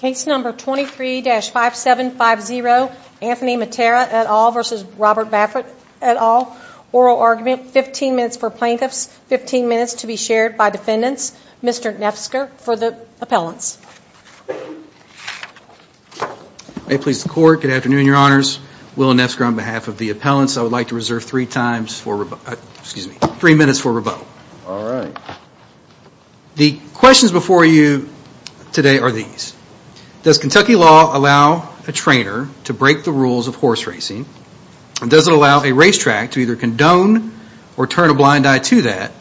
Case number 23-5750 Anthony Mattera et al versus Robert Baffert et al. Oral argument, 15 minutes for plaintiffs, 15 minutes to be shared by defendants. Mr. Nefsker for the appellants. May it please the court. Good afternoon, your honors. Willa Nefsker on behalf of the appellants. I would like to reserve three times for, excuse me, three minutes for rebuttal. All right. The questions before you today are these. Does Kentucky law allow a trainer to break the rules of horse racing? And does it allow a racetrack to either condone or turn a blind eye to that?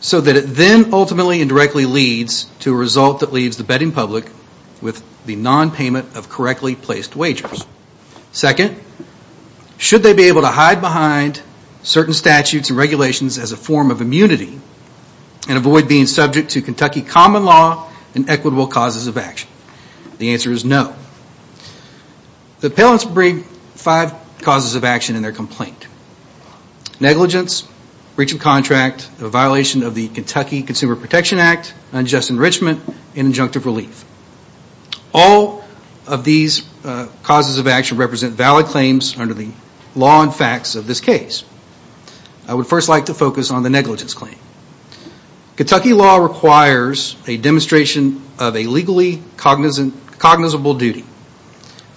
So that it then ultimately and directly leads to a result that leaves the betting public with the non-payment of correctly placed wagers. Second, should they be able to hide behind certain statutes and regulations as a form of immunity and avoid being subject to Kentucky common law and equitable causes of action? The answer is no. The appellants bring five causes of action in their complaint. Negligence, breach of contract, a violation of the Kentucky Consumer Protection Act, unjust enrichment, and injunctive relief. All of these causes of action represent valid claims under the law and facts of this case. I would first like to focus on the negligence claim. Kentucky law requires a demonstration of a legally cognizable duty,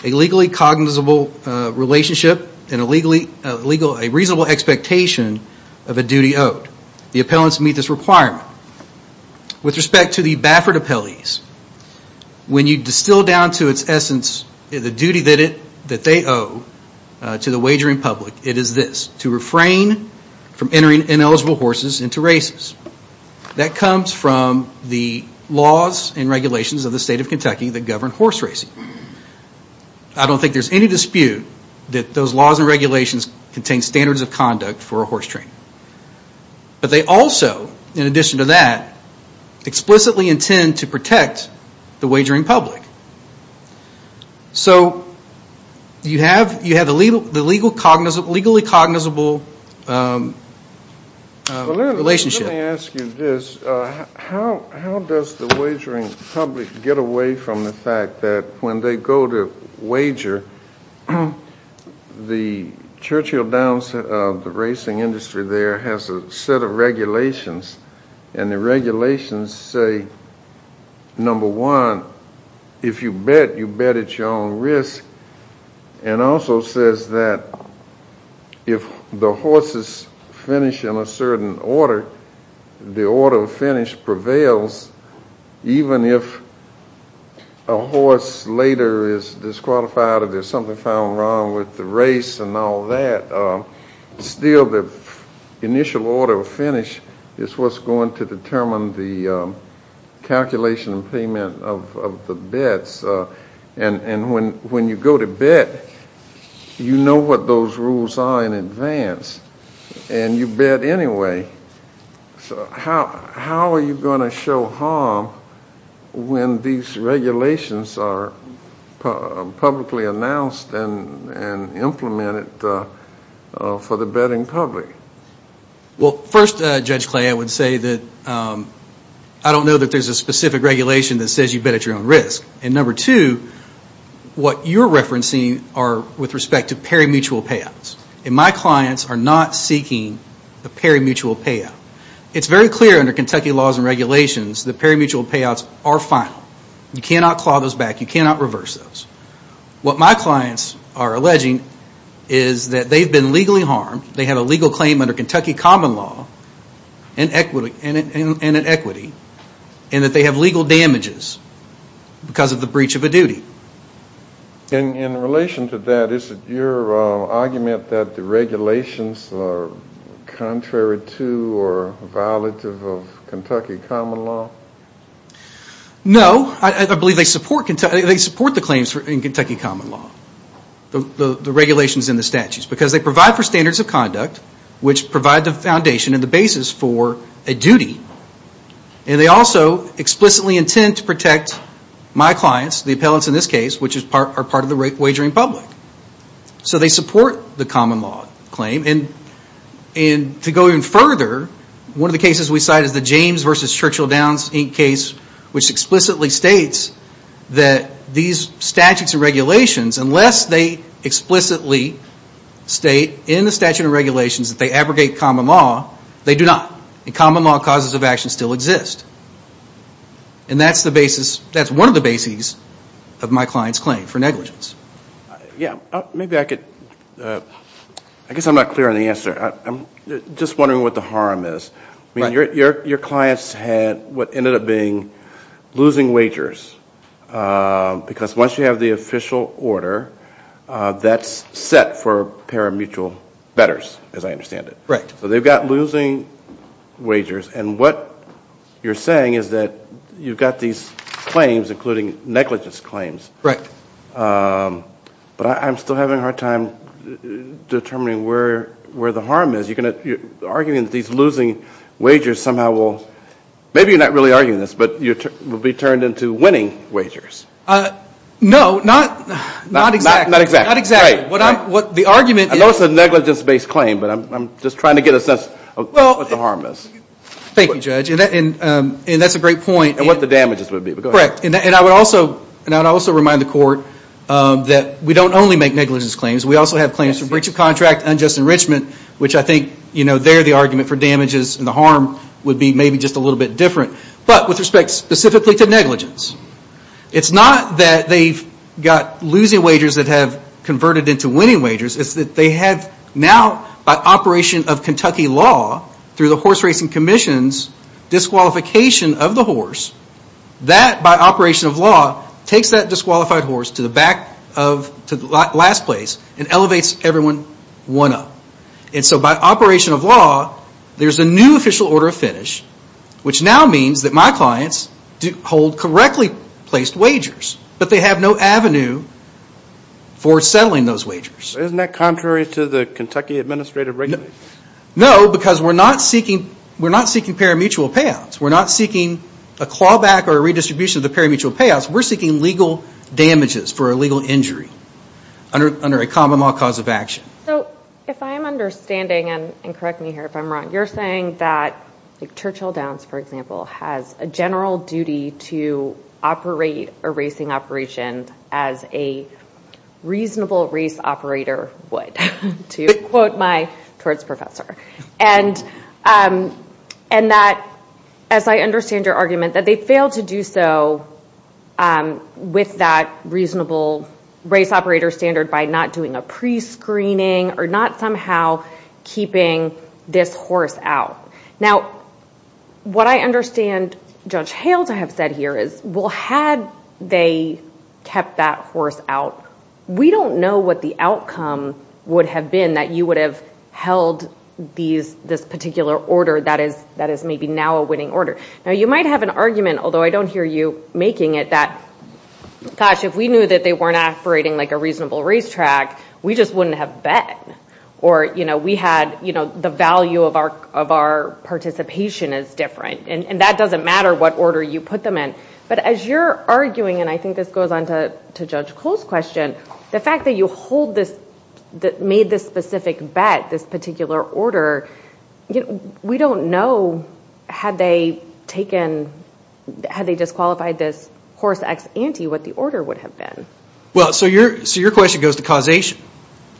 a legally cognizable relationship, and a reasonable expectation of a duty owed. The appellants meet this requirement. With respect to the Baffert appellees, when you distill down to its essence, the duty that they owe to the wagering public, it is this, to refrain from entering ineligible horses into races. That comes from the laws and regulations of the state of Kentucky that govern horse racing. I don't think there's any dispute that those laws and regulations contain standards of conduct for a horse training. But they also, in addition to that, explicitly intend to protect the wagering public. So you have the legally cognizable relationship. Let me ask you this. How does the wagering public get away from the fact that when they go to wager, the Churchill Downs of the racing industry there has a set of regulations, and the regulations say, number one, if you bet, you bet at your own risk, and also says that if the horses finish in a certain order, the order of finish prevails, even if a horse later is disqualified, or there's something found wrong with the race and all that, still the initial order of finish is what's going to determine the calculation and payment of the bets. And when you go to bet, you know what those rules are in advance, and you bet anyway. So how are you going to show harm when these regulations are publicly announced and implemented for the betting public? Well, first, Judge Clay, I would say that I don't know that there's a specific regulation that says you bet at your own risk. And number two, what you're referencing are with respect to parimutuel payouts, and my clients are not seeking the parimutuel payout. It's very clear under Kentucky laws and regulations that parimutuel payouts are final. You cannot claw those back. You cannot reverse those. What my clients are alleging is that they've been legally harmed, they have a legal claim under Kentucky common law and equity, and that they have legal damages because of the breach of a duty. And in relation to that, is it your argument that the regulations are contrary to or violative of Kentucky common law? No, I believe they support the claims in Kentucky common law, the regulations in the statutes, because they provide for standards of conduct, which provide the foundation and the basis for a duty. And they also explicitly intend to protect my clients, the appellants in this case, which are part of the wagering public. So they support the common law claim. And to go even further, one of the cases we cite is the James versus Churchill Downs Inc. case, which explicitly states that these statutes and regulations, unless they explicitly state in the statute of regulations that they abrogate common law, they do not. And common law causes of action still exist. And that's the basis, that's one of the bases of my clients' claim for negligence. Yeah, maybe I could, I guess I'm not clear on the answer. I'm just wondering what the harm is. I mean, your clients had what ended up being losing wagers. Because once you have the official order, that's set for pari-mutual betters, as I understand it. Right. So they've got losing wagers. And what you're saying is that you've got these claims, including negligence claims. Right. But I'm still having a hard time determining where the harm is. You're arguing that these losing wagers somehow will, maybe you're not really arguing this, but you will be turned into winning wagers. No, not exactly. Not exactly. What the argument is. I know it's a negligence-based claim, but I'm just trying to get a sense of what the harm is. Thank you, Judge. And that's a great point. And what the damages would be. Correct. And I would also remind the court that we don't only make negligence claims. We also have claims for breach of contract, unjust enrichment, which I think, you know, they're the argument for damages and the harm would be maybe just a little bit different. But with respect specifically to negligence, it's not that they've got losing wagers that have converted into winning wagers. It's that they have now, by operation of Kentucky law, through the Horse Racing Commission's disqualification of the horse. That, by operation of law, takes that disqualified horse to the back of, to the last place, and elevates everyone one up. And so by operation of law, there's a new official order of finish, which now means that my clients hold correctly placed wagers, but they have no avenue for settling those wagers. Isn't that contrary to the Kentucky Administrative Regulations? No, because we're not seeking, we're not seeking parimutuel payouts. We're not seeking a clawback or a redistribution of the parimutuel payouts. We're seeking legal damages for a legal injury under a common law cause of action. So, if I am understanding, and correct me here if I'm wrong, you're saying that Churchill Downs, for example, has a general duty to operate a racing operation as a reasonable race operator would, to quote my torts professor. And that, as I understand your argument, that they failed to do so with that reasonable race operator standard by not doing a pre-screening or not somehow keeping this horse out. Now, what I understand Judge Hales have said here is, well, had they kept that horse out, we don't know what the outcome would have been that you would have held these, this particular order that is, that is maybe now a winning order. Now, you might have an argument, although I don't hear you making it, that gosh, if we knew that they weren't operating like a reasonable racetrack, we just wouldn't have bet. Or, you know, we had, you know, the value of our, of our participation is different. And that doesn't matter what order you put them in. But as you're arguing, and I think this goes on to Judge Cole's question, the fact that you hold this, that made this specific bet, this particular order, you know, we don't know had they taken had they disqualified this horse ex ante what the order would have been. Well, so your, so your question goes to causation.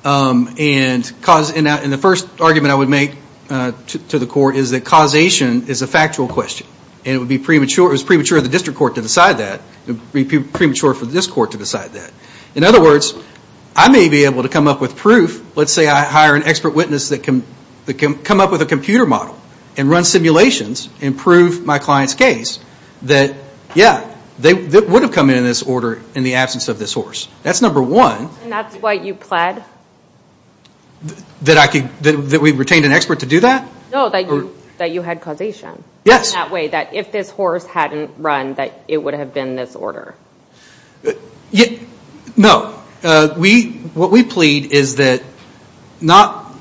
And cause, and the first argument I would make to the court is that causation is a factual question and it would be premature. It was premature of the district court to decide that. It would be premature for this court to decide that. In other words, I may be able to come up with proof. Let's say I hire an expert witness that can, that can come up with a computer model and run simulations and prove my client's case. That, yeah, they would have come in in this order in the absence of this horse. That's number one. And that's why you pled? That I could, that we retained an expert to do that? No, that you, that you had causation. Yes. In that way, that if this horse hadn't run, that it would have been this order. Yeah, no. We, what we plead is that not,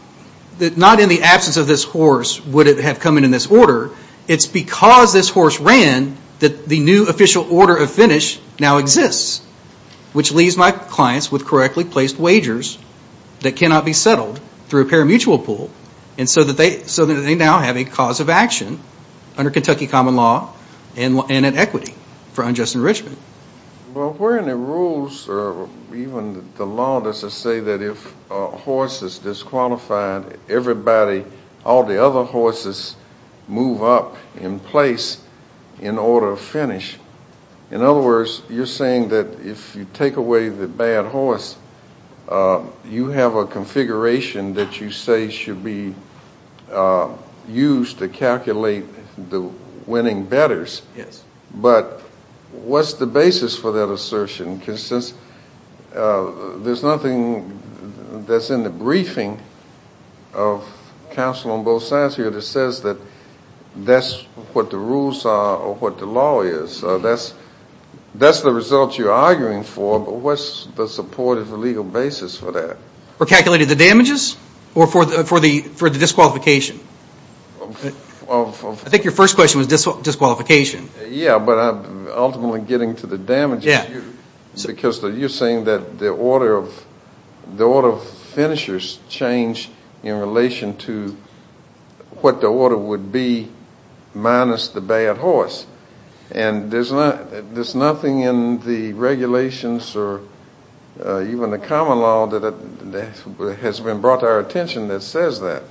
that not in the absence of this horse would it have come in in this order. It's because this horse ran that the new official order of finish now exists. Which leaves my clients with correctly placed wagers that cannot be settled through a parimutuel pool. And so that they, so that they now have a cause of action under Kentucky common law and an equity for unjust enrichment. Well, where in the rules or even the law does it say that if a horse is disqualified, everybody, all the other horses move up in place in order of finish? In other words, you're saying that if you take away the bad horse, you have a configuration that you say should be used to calculate the winning bettors. Yes. But what's the basis for that assertion? Because since there's nothing that's in the briefing of counsel on both sides here that says that that's what the rules are or what the law is. So that's, that's the result you're arguing for, but what's the support of a legal basis for that? For calculating the damages or for the, for the, for the disqualification? I think your first question was disqualification. Yeah, but I'm ultimately getting to the damages. Yeah. Because you're saying that the order of, the order of finishers change in relation to what the order would be minus the bad horse. And there's not, there's nothing in the regulations or even the common law that has been brought to our attention that says that.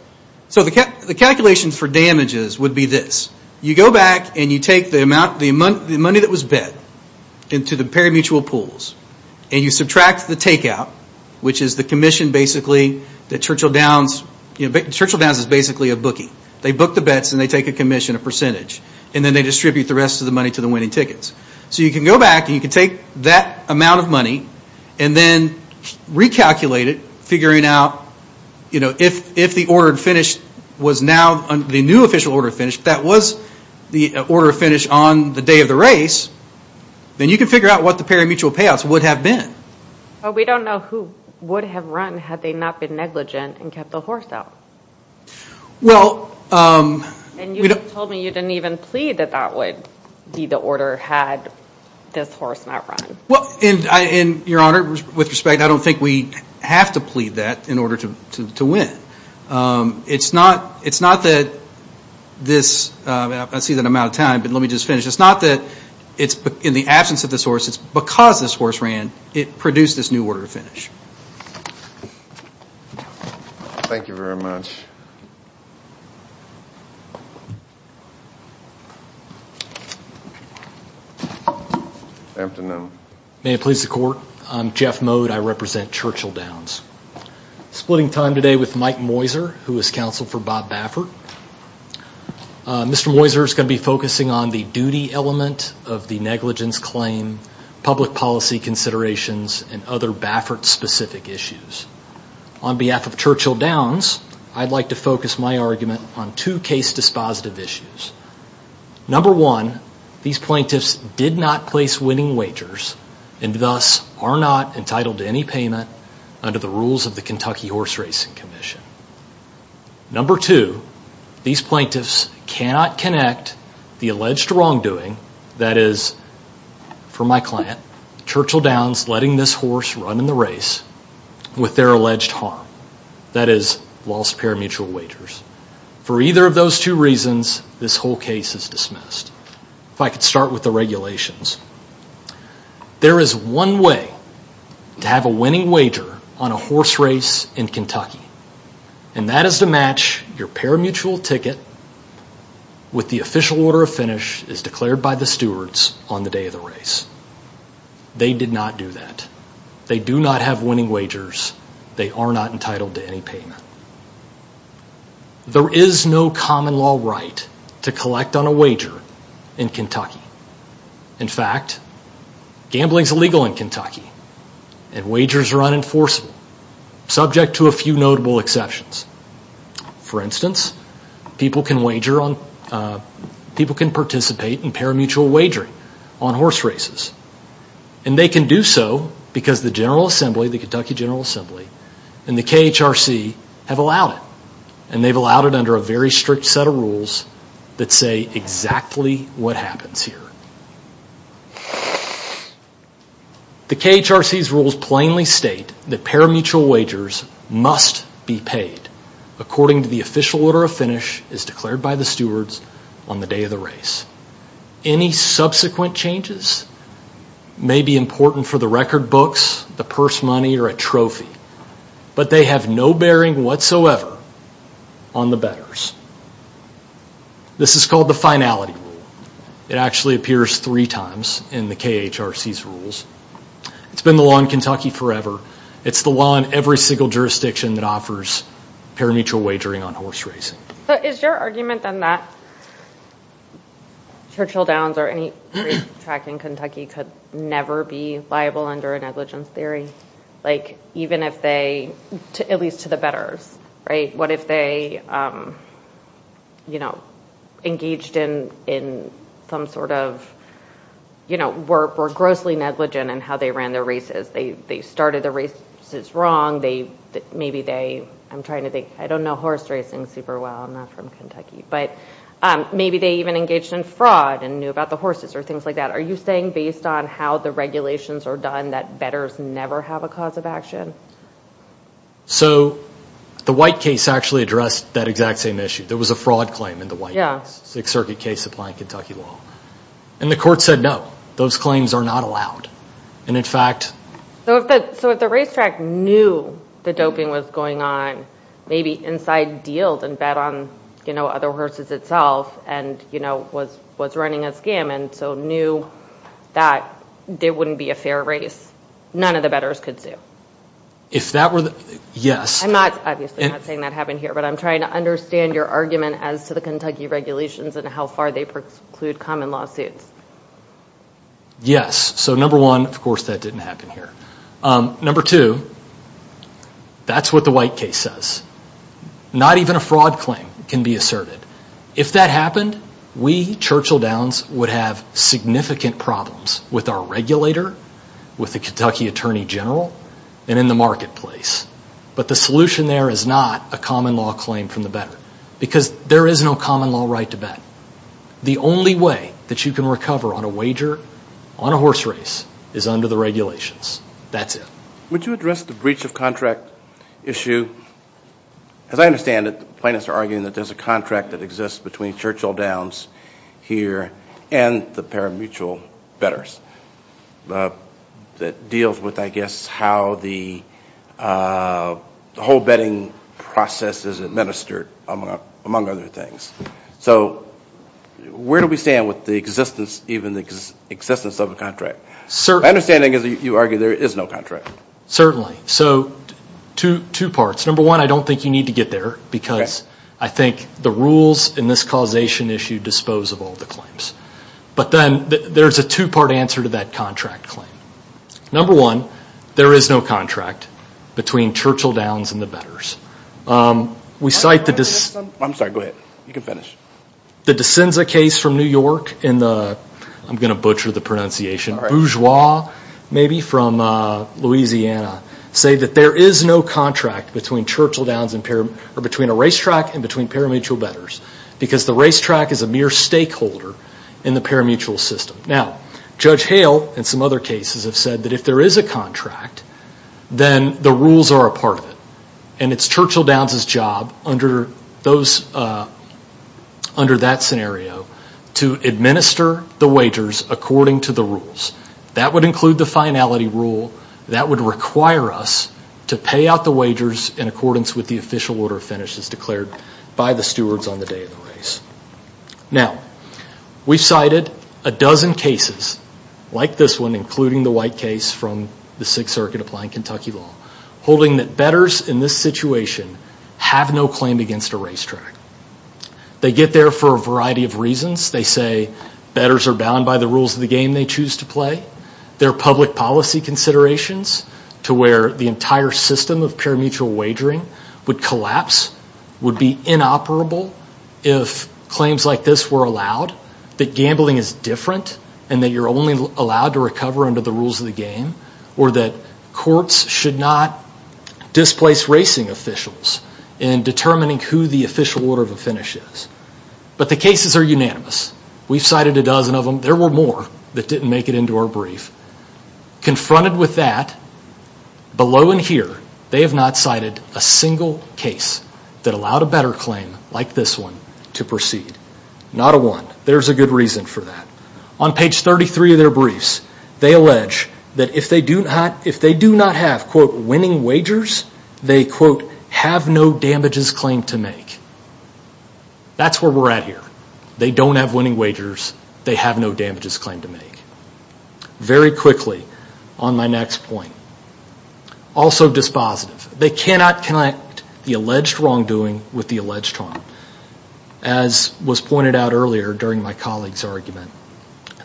So the, the calculation for damages would be this. You go back and you take the amount, the money that was bet into the parimutuel pools, and you subtract the takeout, which is the commission basically that Churchill Downs, you know, Churchill Downs is basically a bookie. They book the bets and they take a commission, a percentage, and then they distribute the rest of the money to the winning tickets. So you can go back and you can take that amount of money and then recalculate it, figuring out, you know, if, if the ordered finish was now, the new official order of finish, that was the order of finish on the day of the race, then you can figure out what the parimutuel payouts would have been. But we don't know who would have run had they not been negligent and kept the horse out. Well, And you told me you didn't even plead that that would be the order had this horse not run. Well, and I, and your honor, with respect, I don't think we have to plead that in order to win. It's not, it's not that this, I see that I'm out of time, but let me just finish. It's not that it's in the absence of this horse, it's because this horse ran, it produced this new order of finish. Thank you very much. May it please the court, I'm Jeff Mode, I represent Churchill Downs. Splitting time today with Mike Moiser, who is counsel for Bob Baffert. Mr. Moiser is going to be focusing on the duty element of the negligence claim, public policy considerations, and other Baffert specific issues. On behalf of Churchill Downs, I'd like to focus my argument on two case dispositive issues. Number one, these plaintiffs did not place winning wagers and thus are not entitled to any payment under the rules of the Kentucky Horse Racing Commission. Number two, these plaintiffs cannot connect the alleged wrongdoing, that is, for my client, Churchill Downs letting this horse run in the race with their alleged harm, that is, lost parimutuel wagers. For either of those two reasons, this whole case is dismissed. If I could start with the regulations, there is one way to have a winning wager on a horse race in Kentucky, and that is to match your parimutuel ticket with the official order of finish as declared by the stewards on the day of the race. They did not do that. They do not have winning wagers. They are not entitled to any payment. There is no common law right to collect on a wager in Kentucky. In fact, gambling is illegal in Kentucky and wagers are unenforceable, subject to a few notable exceptions. For instance, people can wager on, people can participate in parimutuel wagering on horse races, and they can do so because the General Assembly, the Kentucky General Assembly, and the KHRC have allowed it, and they've allowed it under a very strict set of rules that say exactly what happens here. The KHRC's rules plainly state that parimutuel wagers must be paid according to the official order of finish as declared by the stewards on the day of the race. Any subsequent changes may be important for the record books, the purse money, or a trophy, but they have no bearing whatsoever on the bettors. This is called the finality rule. It actually appears three times in the KHRC's rules. It's been the law in Kentucky forever. It's the law in every single jurisdiction that offers parimutuel wagering on horse racing. Is your argument then that Churchill Downs or any race track in Kentucky could never be liable under a negligence theory? Like even if they, at least to the bettors, right? What if they, you know, engaged in some sort of, you know, were grossly negligent in how they ran their races. They started the races wrong. Maybe they, I'm trying to think, I don't know horse racing super well. I'm not from Kentucky, but maybe they even engaged in fraud and knew about the horses or things like that. Are you saying based on how the regulations are done that bettors never have a cause of action? So, the White case actually addressed that exact same issue. There was a fraud claim in the White case, Sixth Circuit case applying Kentucky law, and the court said no, those claims are not allowed. And in fact... So if the racetrack knew the doping was going on, maybe inside dealed and bet on, you know, other horses itself and, you know, was running a scam and so knew that there wouldn't be a fair race, none of the bettors could sue. If that were the, yes. I'm not saying that happened here, but I'm trying to understand your argument as to the Kentucky regulations and how far they preclude common lawsuits. Yes, so number one, of course that didn't happen here. Number two, that's what the White case says. Not even a fraud claim can be asserted. If that happened, we, Churchill Downs, would have significant problems with our regulator, with the Kentucky Attorney General, and in the marketplace. But the solution there is not a common law claim from the bettor, because there is no common law right to bet. The only way that you can recover on a wager, on a horse race, is under the regulations. That's it. Would you address the breach of contract issue? As I understand it, plaintiffs are arguing that there's a contract that exists between Churchill Downs here and the pari-mutual bettors that deals with, I guess, how the whole betting process is administered, among other things. So where do we stand with the existence, even the existence of a contract? My understanding is that you argue there is no contract. Certainly. So, two parts. Number one, I don't think you need to get there, because I think the rules in this causation issue dispose of all the claims. But then there's a two-part answer to that contract claim. Number one, there is no contract between Churchill Downs and the bettors. We cite the... I'm sorry, go ahead. You can finish. The D'Sinza case from New York in the, I'm gonna butcher the pronunciation, Bourgeois, maybe from Louisiana, say that there is no contract between Churchill Downs and, or between a racetrack and between pari-mutual bettors, because the racetrack is a mere stakeholder in the pari-mutual system. Now, Judge Hale and some other cases have said that if there is a contract, then the rules are a part of it. And it's Churchill Downs' job under those, under that scenario to administer the wagers according to the rules. That would include the finality rule. That would require us to pay out the wagers in accordance with the official order of finishes declared by the stewards on the day of the race. Now, we've cited a dozen cases like this one, including the white case from the Sixth Circuit Applying Kentucky Law, holding that bettors in this situation have no claim against a racetrack. They get there for a variety of reasons. They say bettors are bound by the rules of the game they choose to play. There are public policy considerations to where the entire system of pari-mutual wagering would collapse, would be inoperable if claims like this were allowed, that gambling is different, and that you're only allowed to recover under the rules of the game, or that courts should not displace racing officials in determining who the official order of a finish is. But the cases are unanimous. We've cited a dozen of them. There were more that didn't make it into our brief. Confronted with that, below in here, they have not cited a single case that allowed a better claim like this one to proceed. Not a one. There's a good reason for that. On page 33 of their briefs, they allege that if they do not have, quote, winning wagers, they, quote, have no damages claim to make. That's where we're at here. They don't have winning wagers. They have no damages claim to make. Very quickly on my next point, also dispositive. They cannot connect the alleged wrongdoing with the alleged harm. As was pointed out earlier during my colleague's argument,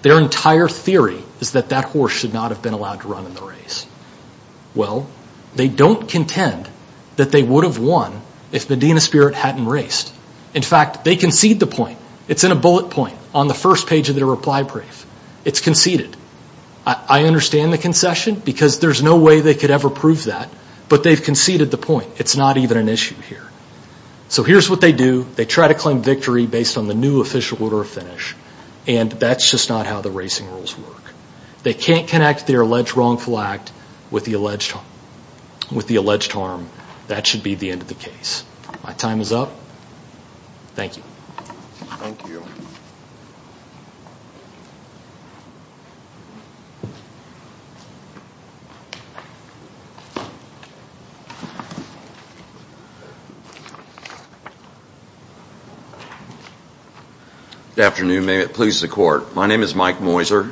their entire theory is that that horse should not have been allowed to run in the race. Well, they don't contend that they would have won if Medina Spirit hadn't raced. In fact, they concede the point. It's in a bullet point on the first page of their reply brief. It's conceded. I understand the concession because there's no way they could ever prove that, but they've conceded the point. It's not even an issue here. So here's what they do. They try to claim victory based on the new official order of finish, and that's just not how the racing rules work. They can't connect their alleged wrongful act with the alleged harm. That should be the end of the case. My time is up. Thank you. Good afternoon. May it please the court. My name is Mike Moiser,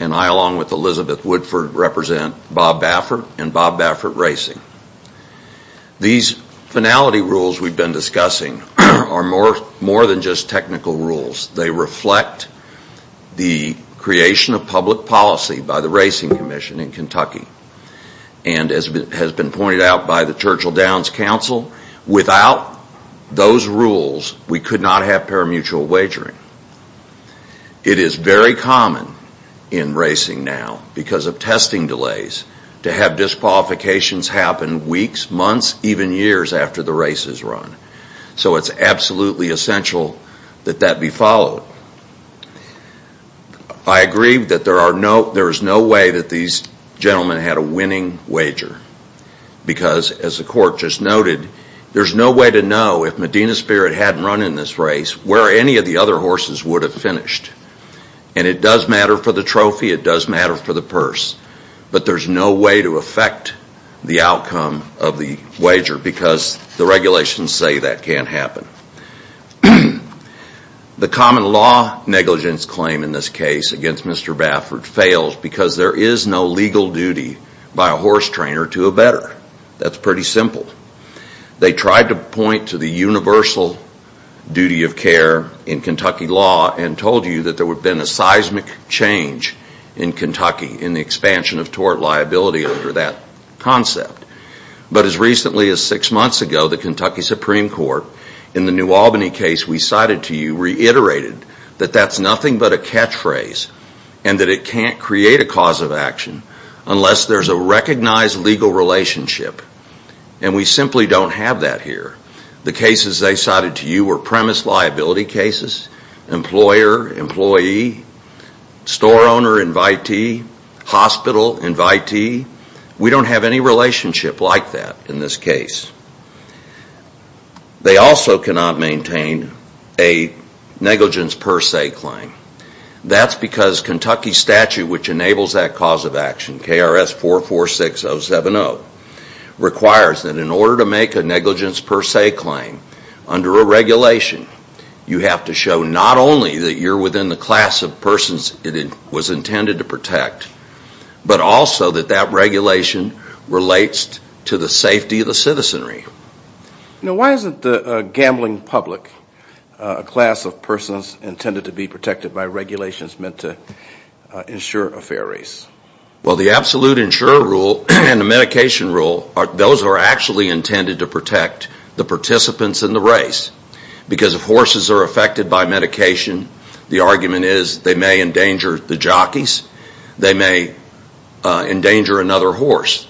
and I, along with Elizabeth Woodford, represent Bob Baffert and Bob Baffert Racing. These finality rules we've been discussing are more than just technical rules. They reflect the creation of public policy by the Racing Commission in Kentucky, and as has been pointed out by the Churchill Downs Council, without those rules, we could not have parimutuel wagering. It is very common in racing now, because of testing delays, to have disqualifications happen weeks, months, even years after the race is run. So it's absolutely essential that that be followed. I agree that there is no way that these gentlemen had a winning wager, because, as the court just noted, there's no way to know, if Medina Spirit hadn't run in this race, where any of the other horses would have finished. And it does matter for the trophy, it does matter for the purse, but there's no way to affect the outcome of the wager, because the regulations say that can't happen. The common law negligence claim in this case against Mr. Baffert fails, because there is no legal duty by a horse trainer to a better. That's pretty simple. They tried to point to the universal duty of care in Kentucky law, and told you that there would have been a seismic change in Kentucky, in the expansion of tort liability under that concept. But as recently as six months ago, the Kentucky Supreme Court, in the New Albany case we cited to you, reiterated that that's nothing but a catchphrase, and that it can't create a cause of action, unless there's a recognized legal relationship. And we simply don't have that here. The cases they cited to you were premise liability cases, employer, employee, store owner, invitee, hospital invitee. We don't have any relationship like that in this case. They also cannot maintain a negligence per se claim. That's because Kentucky statute, which enables that cause of action, KRS 446070, requires that in order to make a negligence per se claim, under a regulation, you have to show not only that you're within the class of persons it was intended to protect, but also that that regulation relates to the safety of the citizenry. Now why isn't the gambling public a class of persons intended to be protected by regulations meant to insure a fair race? Well the absolute insurer rule and the medication rule, those are actually intended to protect the participants in the race. Because if horses are affected by medication, the argument is they may endanger the jockeys, they may endanger another horse.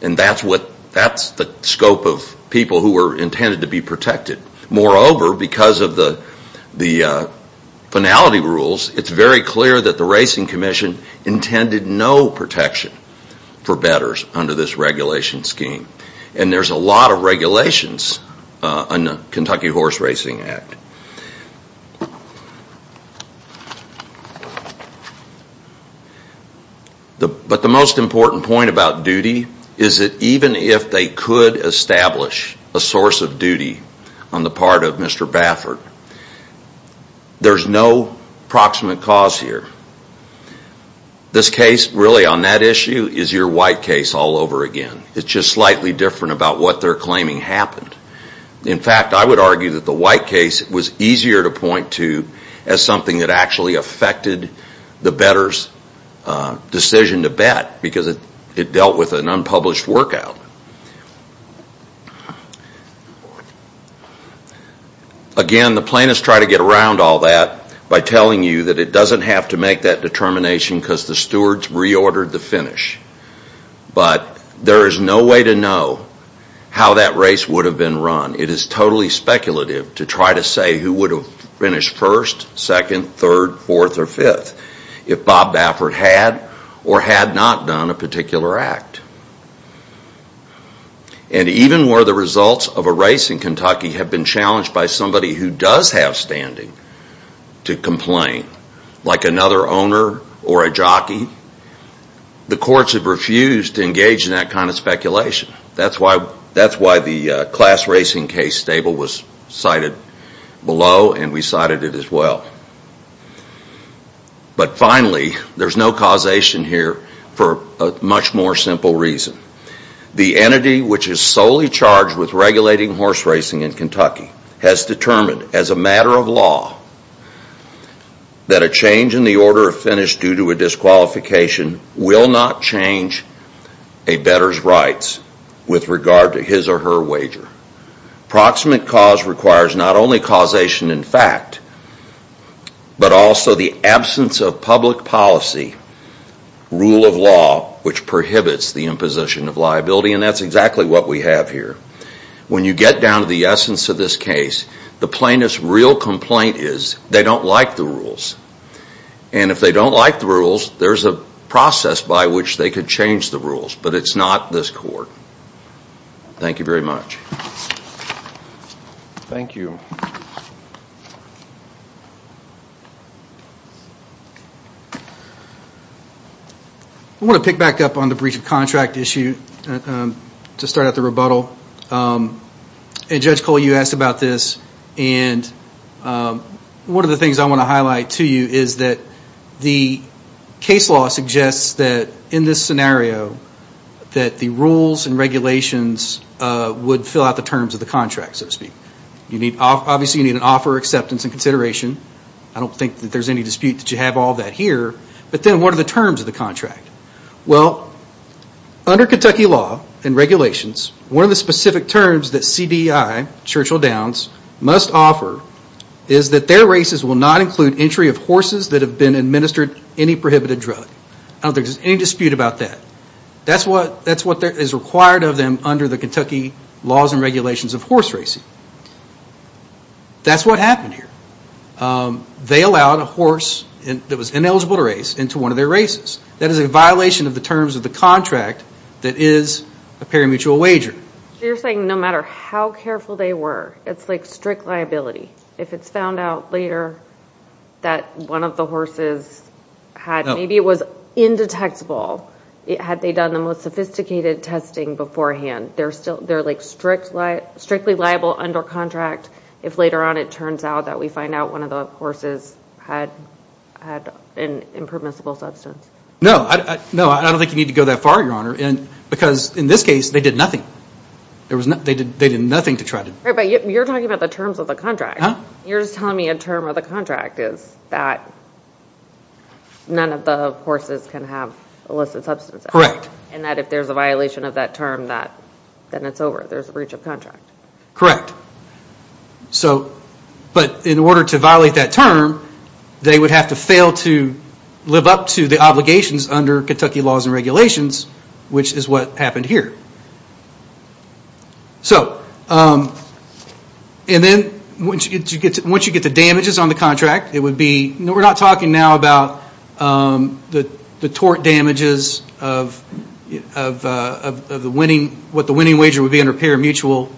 And that's the scope of people who were intended to be protected. Moreover, because of the finality rules, it's very clear that the racing commission intended no protection for bettors under this regulation scheme. And there's a lot of regulations on the Kentucky Horse Racing Act. But the most important point about duty is that even if they could establish a source of duty on the part of Mr. Baffert, there's no proximate cause here. This case, really on that issue, is your white case all over again. It's just slightly different about what they're claiming happened. In fact, I would argue that the white case was easier to point to as something that actually affected the bettor's decision to bet because it dealt with an unpublished workout. Again, the plaintiffs try to get around all that by telling you that it doesn't have to make that determination because the stewards reordered the finish. But there is no way to know how that race would have been run. It is totally speculative to try to say who would have finished first, second, third, fourth, or fifth if Bob Baffert had or had not done a particular act. And even where the results of a race in Kentucky have been challenged by somebody who does have standing to complain, like another owner or a jockey, the courts have refused to engage in that kind of speculation. That's why the class racing case table was cited below and we cited it as well. But finally, there's no causation here for a much more simple reason. The entity which is solely charged with regulating horse racing in Kentucky has determined as a matter of law that a change in the order of finish due to a disqualification will not change a bettor's rights with regard to his or her wager. Proximate cause requires not only causation in fact, but also the absence of public policy rule of law which prohibits the imposition of liability. And that's exactly what we have here. When you get down to the essence of this case, the plaintiff's real complaint is they don't like the rules. And if they don't like the rules, there's a process by which they could change the rules. But it's not this court. Thank you very much. Thank you. I want to pick back up on the breach of contract issue to start out the rebuttal. And Judge Cole, you asked about this and one of the things I want to highlight to you is that the case law suggests that in this scenario, that the rules and regulations would fill out the terms of the contract so to speak. Obviously you need an offer of acceptance and consideration. I don't think there's any dispute that you have all that here. But then what are the terms of the contract? Well, under Kentucky law and regulations, one of the specific terms that CBI, Churchill Downs, must offer is that their races will not include entry of horses that have been administered any prohibited drug. I don't think there's any dispute about that. That's what is required of them under the Kentucky laws and regulations of horse racing. That's what happened here. They allowed a horse that was ineligible to race into one of their races. That is a violation of the terms of the contract that is a parimutuel wager. You're saying no matter how careful they were, it's like strict liability. If it's found out later that one of the horses had, maybe it was indetectable, had they done the most sophisticated testing beforehand, they're like strictly liable under contract if later on it turns out that we find out one of the horses had an impermissible substance. No, I don't think you need to go that far, Your Honor, because in this case, they did nothing. They did nothing to try to... But you're talking about the terms of the contract. You're just telling me a term of the contract is that none of the horses can have illicit substances. Correct. And that if there's a violation of that term, then it's over. There's a breach of contract. Correct. But in order to violate that term, they would have to fail to live up to the obligations under Kentucky laws and regulations, which is what happened here. So, and then, once you get the damages on the contract, it would be, we're not talking now about the tort damages of what the winning wager would be under the pair of mutual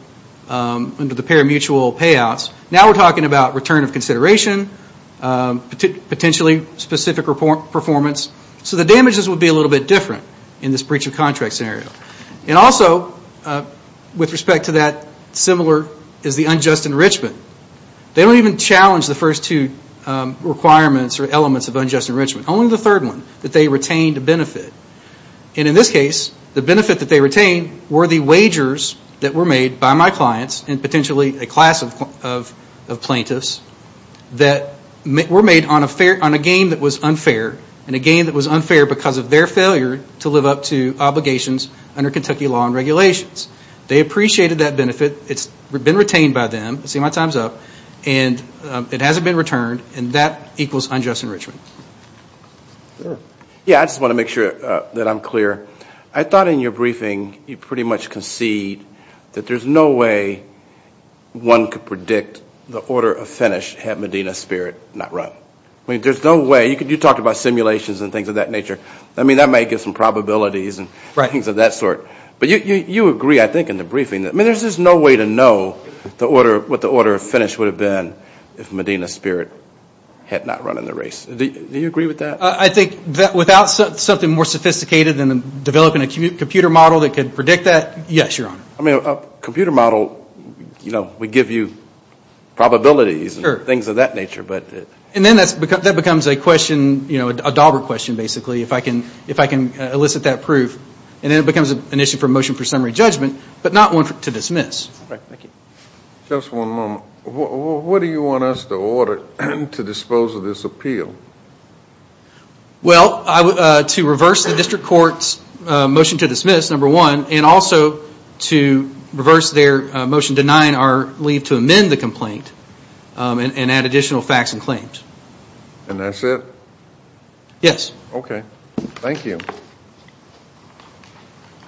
payouts. Now we're talking about return of consideration, potentially specific performance, so the damages would be a little bit different in this breach of contract scenario. And also, with respect to that, similar is the unjust enrichment. They don't even challenge the first two requirements or elements of unjust enrichment. Only the third one, that they retained a benefit. And in this case, the benefit that they retained were the wagers that were made by my clients, and potentially a class of plaintiffs, that were made on a game that was unfair, and a game that was unfair because of their failure to live up to obligations under Kentucky law and regulations. They appreciated that benefit. It's been retained by them. See, my time's up. And it hasn't been returned, and that equals unjust enrichment. Yeah, I just want to make sure that I'm clear. I thought in your briefing, you pretty much concede that there's no way one could predict the order of finish had Medina's spirit not run. I mean, there's no way, you talked about simulations and things of that nature. I mean, that might give some probabilities and things of that sort. But you agree, I think, in the briefing that, I mean, there's just no way to know what the order of finish would have been if Medina's spirit had not run in the race. Do you agree with that? I think that without something more sophisticated than developing a computer model that could predict that, yes, Your Honor. I mean, a computer model, you know, would give you probabilities and things of that nature. And then that becomes a question, you know, a dauber question, basically, if I can elicit that proof. And then it becomes an issue for motion for summary judgment, but not one to dismiss. Right, thank you. Just one moment. What do you want us to order to dispose of this appeal? Well, to reverse the district court's motion to dismiss, number one, and also to reverse their motion denying our leave to amend the complaint and add additional facts and claims. And that's it? Yes. Okay, thank you.